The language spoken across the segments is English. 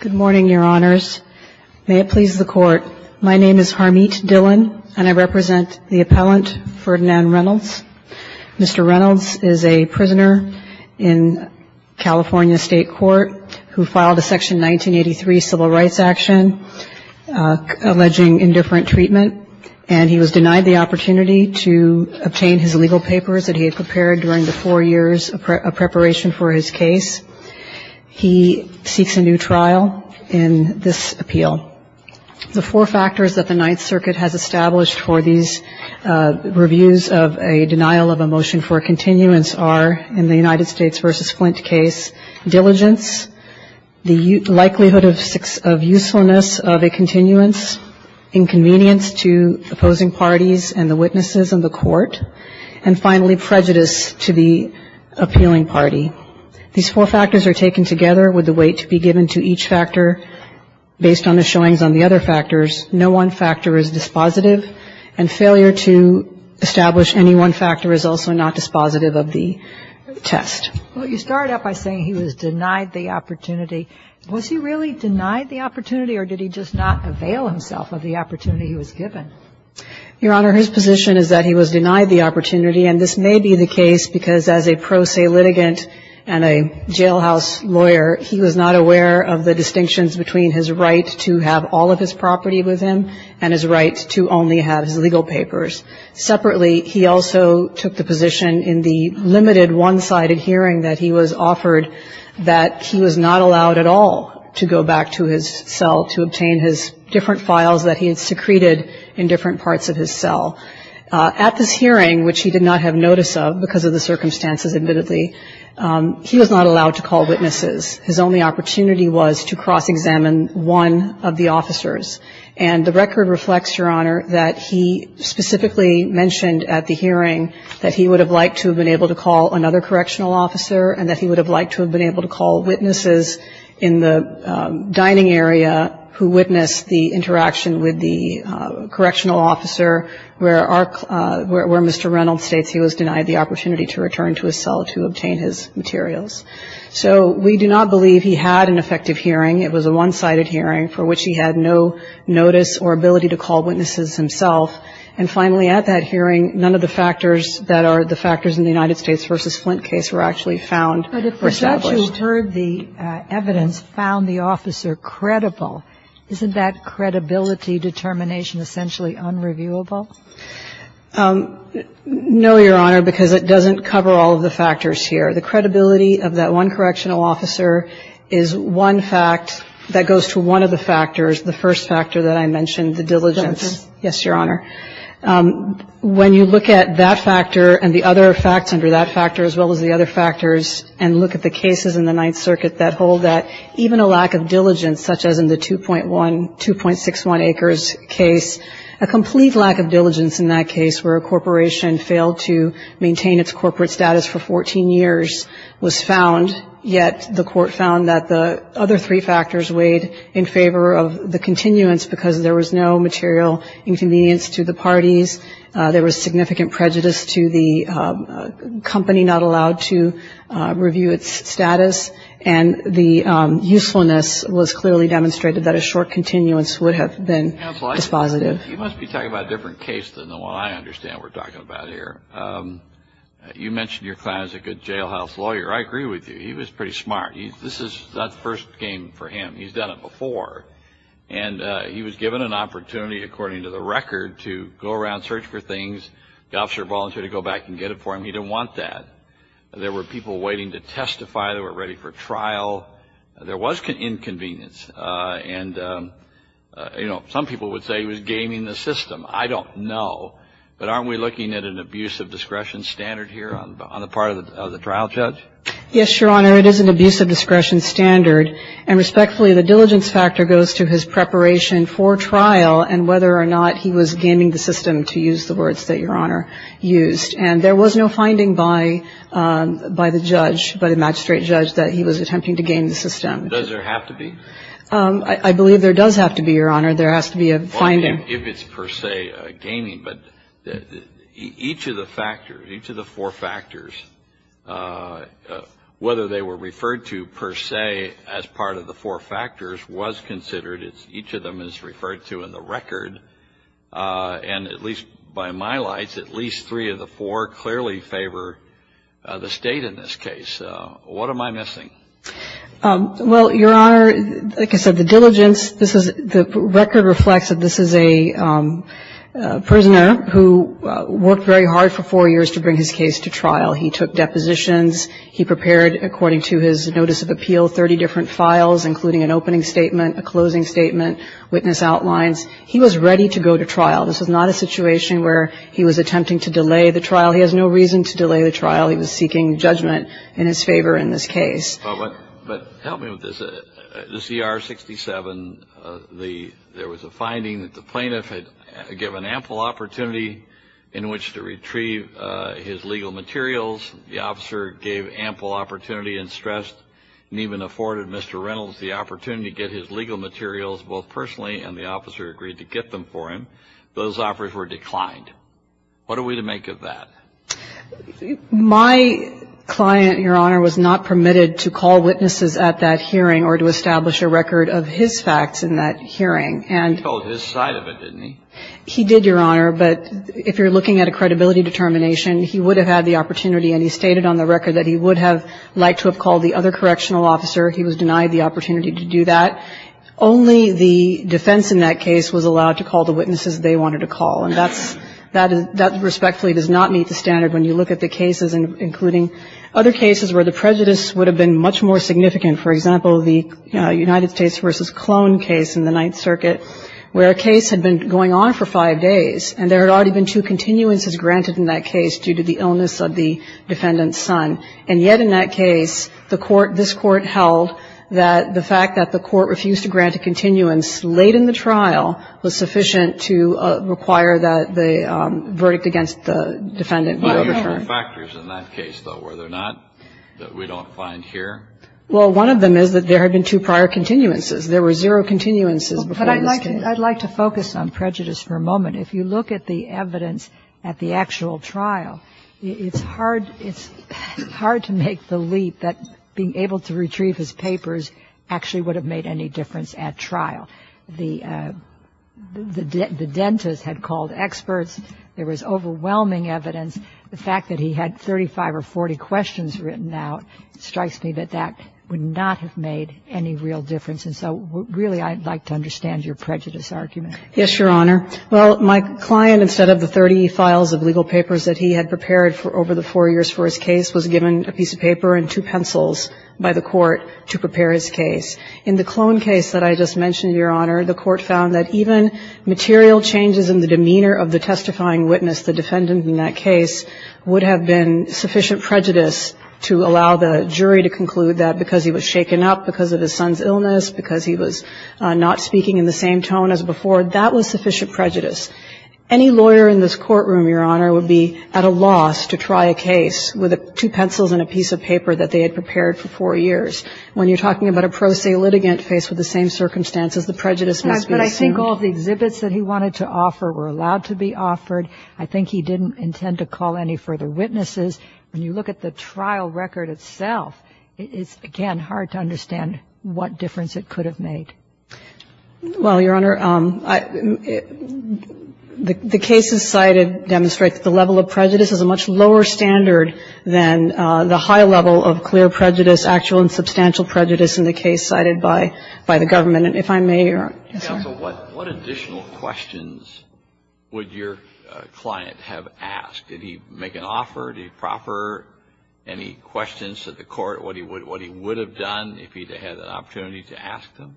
Good morning, Your Honors. May it please the Court, my name is Harmeet Dhillon, and I represent the appellant Ferdinand Reynolds. Mr. Reynolds is a prisoner in California State Court who filed a Section 1983 civil rights action alleging indifferent treatment, and he was denied the opportunity to obtain his legal papers that he had prepared during the four years of preparation for his case. He seeks a new trial in this appeal. The four factors that the Ninth Circuit has established for these reviews of a denial of a motion for a continuance are, in the United States v. Flint case, diligence, the likelihood of usefulness of a continuance, inconvenience to opposing parties and the witnesses in the court, and finally, prejudice to the appealing party. These four factors are taken together with the weight to be given to each factor based on the showings on the other factors. No one factor is dispositive, and failure to establish any one factor is also not dispositive of the test. Well, you start out by saying he was denied the opportunity. Was he really denied the opportunity, or did he just not avail himself of the opportunity he was given? Your Honor, his position is that he was denied the opportunity, and this may be the case because as a pro se litigant and a jailhouse lawyer, he was not aware of the distinctions between his right to have all of his property with him and his right to only have his legal papers. Separately, he also took the position in the limited one-sided hearing that he was offered that he was not allowed at all to go back to his cell to obtain his different files that he had secreted in different parts of his cell. At this hearing, which he did not have notice of because of the circumstances admittedly, he was not allowed to call witnesses. His only opportunity was to cross-examine one of the officers, and the record reflects, Your Honor, that he specifically mentioned at the hearing that he would have liked to have been able to call another correctional officer and that he would have liked to have been able to call witnesses in the dining area who witnessed the interaction with the correctional officer where Mr. Reynolds states he was denied the opportunity to return to his cell to obtain his materials. So we do not believe he had an effective hearing. It was a one-sided hearing for which he had no notice or ability to call witnesses himself. And finally, at that hearing, none of the factors that are the factors in the United States v. Flint case were actually found or established. But if we've actually heard the evidence found the officer credible, isn't that credibility determination essentially unreviewable? No, Your Honor, because it doesn't cover all of the factors here. The credibility of that one correctional officer is one fact that goes to one of the factors, the first factor that I mentioned, the diligence. Diligence. Yes, Your Honor. When you look at that factor and the other facts under that factor as well as the other factors and look at the cases in the Ninth Circuit that hold that, even a lack of diligence such as in the 2.1, 2.61 Acres case, a complete lack of diligence in that case where a corporation failed to maintain its corporate status for 14 years was found, yet the court found that the other three factors weighed in favor of the continuance because there was no material inconvenience to the parties, there was significant prejudice to the company not allowed to review its status, and the usefulness was clearly demonstrated that a short continuance would have been dispositive. Counsel, you must be talking about a different case than the one I understand we're talking about here. You mentioned your client is a good jailhouse lawyer. I agree with you. He was pretty smart. This is not the first game for him. He's done it before. And he was given an opportunity, according to the record, to go around, search for things. The officer volunteered to go back and get it for him. He didn't want that. There were people waiting to testify. They were ready for trial. There was inconvenience. And, you know, some people would say he was gaming the system. I don't know. But aren't we looking at an abuse of discretion standard here on the part of the trial judge? Yes, Your Honor. It is an abuse of discretion standard. And respectfully, the diligence factor goes to his preparation for trial and whether or not he was gaming the system, to use the words that Your Honor used. And there was no finding by the judge, by the magistrate judge, that he was attempting to game the system. Does there have to be? I believe there does have to be, Your Honor. There has to be a finding. Well, if it's per se gaming. But each of the factors, each of the four factors, whether they were referred to per se as part of the four factors was considered. Each of them is referred to in the record. And at least by my lights, at least three of the four clearly favor the State in this case. What am I missing? Well, Your Honor, like I said, the diligence. The record reflects that this is a prisoner who worked very hard for four years to bring his case to trial. He took depositions. He prepared, according to his notice of appeal, 30 different files, including an opening statement, a closing statement, witness outlines. He was ready to go to trial. This was not a situation where he was attempting to delay the trial. He has no reason to delay the trial. He was seeking judgment in his favor in this case. But help me with this. The CR 67, there was a finding that the plaintiff had given ample opportunity in which to retrieve his legal materials. The officer gave ample opportunity and stressed and even afforded Mr. Reynolds the opportunity to get his legal materials, both personally and the officer agreed to get them for him. Those offers were declined. What are we to make of that? My client, Your Honor, was not permitted to call witnesses at that hearing or to establish a record of his facts in that hearing. And he told his side of it, didn't he? He did, Your Honor. But if you're looking at a credibility determination, he would have had the opportunity and he stated on the record that he would have liked to have called the other correctional officer. He was denied the opportunity to do that. Only the defense in that case was allowed to call the witnesses they wanted to call. And that respectfully does not meet the standard when you look at the cases, including other cases where the prejudice would have been much more significant. For example, the United States v. Clone case in the Ninth Circuit, where a case had been going on for five days and there had already been two continuances granted in that case due to the illness of the defendant's son. And yet in that case, this Court held that the fact that the Court refused to grant a continuance late in the trial was sufficient to require that the verdict against the defendant be overturned. But are there other factors in that case, though, were there not, that we don't find here? Well, one of them is that there had been two prior continuances. There were zero continuances before this case. But I'd like to focus on prejudice for a moment. If you look at the evidence at the actual trial, it's hard to make the leap that being able to retrieve his papers actually would have made any difference at trial. The dentist had called experts. There was overwhelming evidence. The fact that he had 35 or 40 questions written out strikes me that that would not have made any real difference. And so really I'd like to understand your prejudice argument. Yes, Your Honor. Well, my client, instead of the 30 files of legal papers that he had prepared for over the four years for his case, was given a piece of paper and two pencils by the Court to prepare his case. In the clone case that I just mentioned, Your Honor, the Court found that even material changes in the demeanor of the testifying witness, the defendant in that case, would have been sufficient prejudice to allow the jury to conclude that because he was shaken up because of his son's illness, because he was not speaking in the same tone as before, that was sufficient prejudice. Any lawyer in this courtroom, Your Honor, would be at a loss to try a case with two pencils and a piece of paper that they had prepared for four years. When you're talking about a pro se litigant faced with the same circumstances, the prejudice must be assumed. But I think all the exhibits that he wanted to offer were allowed to be offered. I think he didn't intend to call any further witnesses. When you look at the trial record itself, it's, again, hard to understand what difference it could have made. Well, Your Honor, the cases cited demonstrate that the level of prejudice is a much lower standard than the high level of clear prejudice, actual and substantial prejudice in the case cited by the government. And if I may, Your Honor. Yes, sir. What additional questions would your client have asked? Did he make an offer? Did he proffer any questions to the Court, what he would have done if he had an opportunity to ask them?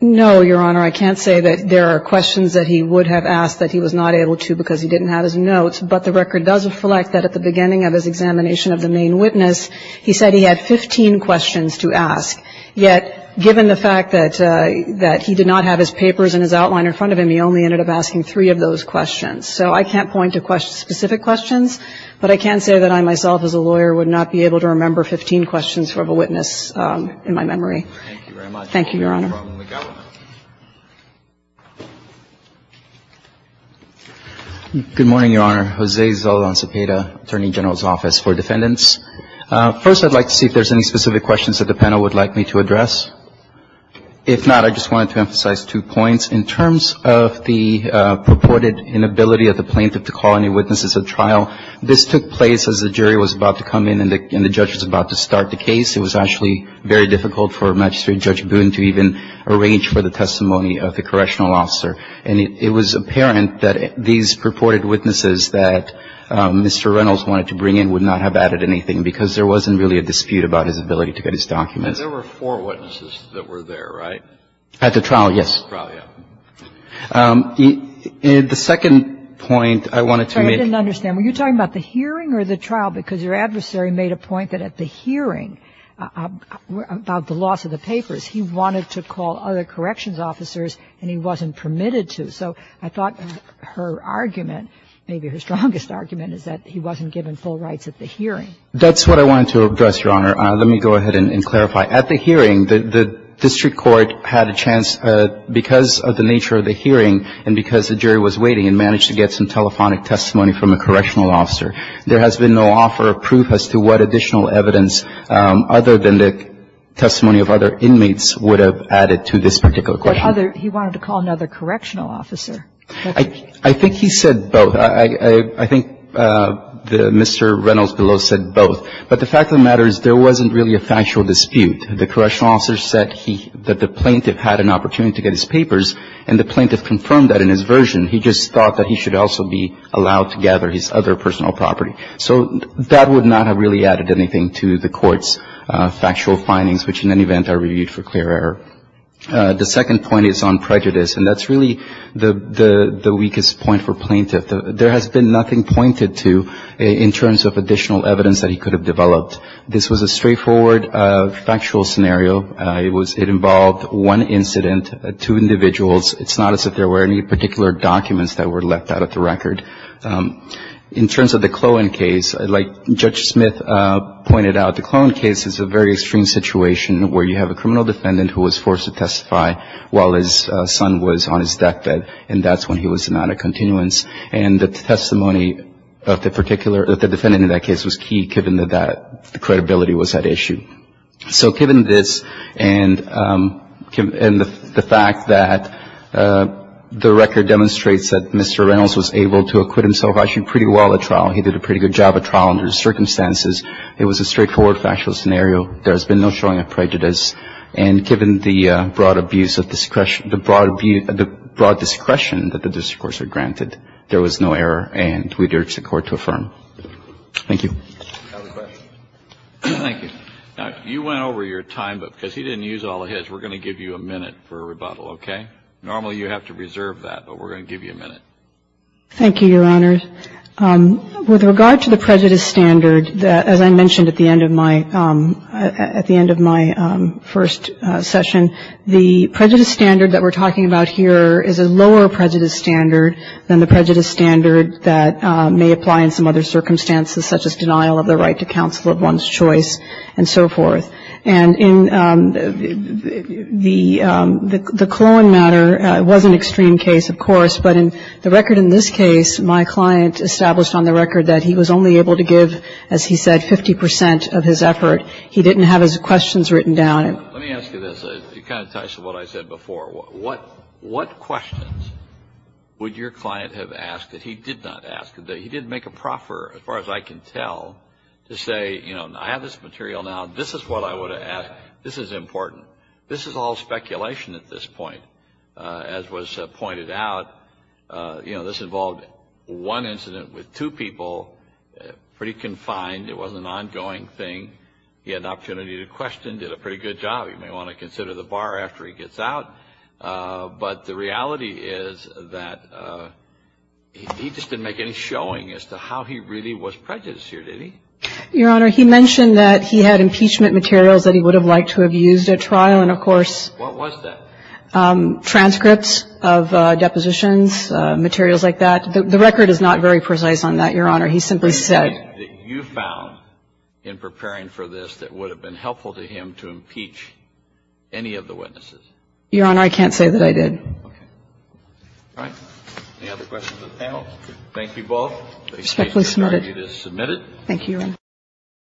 No, Your Honor. I can't say that there are questions that he would have asked that he was not able to because he didn't have his notes. But the record does reflect that at the beginning of his examination of the main witness, he said he had 15 questions to ask. Yet, given the fact that he did not have his papers and his outline in front of him, he only ended up asking three of those questions. So I can't point to specific questions, but I can say that I myself as a lawyer would not be able to remember 15 questions from a witness in my memory. Thank you very much. Thank you, Your Honor. We've got one. Good morning, Your Honor. Jose Zaldan Cepeda, Attorney General's Office for Defendants. First, I'd like to see if there's any specific questions that the panel would like me to address. If not, I just wanted to emphasize two points. In terms of the purported inability of the plaintiff to call any witnesses at trial, this took place as the jury was about to come in and the judge was about to start the case, it was actually very difficult for Magistrate Judge Boone to even arrange for the testimony of the correctional officer. And it was apparent that these purported witnesses that Mr. Reynolds wanted to bring in would not have added anything because there wasn't really a dispute about his ability to get his documents. There were four witnesses that were there, right? At the trial, yes. At the trial, yeah. The second point I wanted to make. I didn't understand. Were you talking about the hearing or the trial? Because your adversary made a point that at the hearing about the loss of the papers, he wanted to call other corrections officers and he wasn't permitted to. So I thought her argument, maybe her strongest argument, is that he wasn't given full rights at the hearing. That's what I wanted to address, Your Honor. Let me go ahead and clarify. At the hearing, the district court had a chance, because of the nature of the hearing and because the jury was waiting and managed to get some telephonic testimony from a correctional officer. There has been no offer of proof as to what additional evidence other than the testimony of other inmates would have added to this particular question. But other he wanted to call another correctional officer. I think he said both. I think Mr. Reynolds below said both. But the fact of the matter is there wasn't really a factual dispute. The correctional officer said that the plaintiff had an opportunity to get his papers and the plaintiff confirmed that in his version. He just thought that he should also be allowed to gather his other personal property. So that would not have really added anything to the court's factual findings, which in any event are reviewed for clear error. The second point is on prejudice. And that's really the weakest point for plaintiff. There has been nothing pointed to in terms of additional evidence that he could have developed. This was a straightforward factual scenario. It involved one incident, two individuals. It's not as if there were any particular documents that were left out of the record. In terms of the Clohan case, like Judge Smith pointed out, the Clohan case is a very extreme situation where you have a criminal defendant who was forced to testify while his son was on his deathbed, and that's when he was not at continuance. And the testimony of the defendant in that case was key given that the credibility was at issue. So given this and the fact that the record demonstrates that Mr. Reynolds was able to acquit himself actually pretty well at trial, he did a pretty good job at trial under the circumstances, it was a straightforward factual scenario. There has been no showing of prejudice. And given the broad abuse of discretion, the broad discretion that the district courts are granted, there was no error, and we'd urge the Court to affirm. Thank you. I have a question. Thank you. Now, you went over your time, but because he didn't use all of his, we're going to give you a minute for rebuttal, okay? Normally you have to reserve that, but we're going to give you a minute. Thank you, Your Honors. With regard to the prejudice standard, as I mentioned at the end of my first session, the prejudice standard that we're talking about here is a lower prejudice standard than the prejudice standard that may apply in some other circumstances, such as denial of the right to counsel of one's choice and so forth. And in the Cologne matter, it was an extreme case, of course, but in the record in this case, my client established on the record that he was only able to give, as he said, 50 percent of his effort. He didn't have his questions written down. Let me ask you this. It kind of ties to what I said before. What questions would your client have asked that he did not ask, that he didn't make a proffer, as far as I can tell, to say, you know, I have this material now. This is what I would have asked. This is important. This is all speculation at this point. As was pointed out, you know, this involved one incident with two people, pretty confined. It wasn't an ongoing thing. He had an opportunity to question, did a pretty good job. You may want to consider the bar after he gets out. But the reality is that he just didn't make any showing as to how he really was prejudiced here, did he? Your Honor, he mentioned that he had impeachment materials that he would have liked to have used at trial, and, of course. What was that? Transcripts of depositions, materials like that. The record is not very precise on that, Your Honor. He simply said. Okay. That you found in preparing for this that would have been helpful to him to impeach any of the witnesses. Your Honor, I can't say that I did. Okay. All right. Any other questions of the panel? Thank you both. The case has been argued as submitted. Thank you, Your Honor.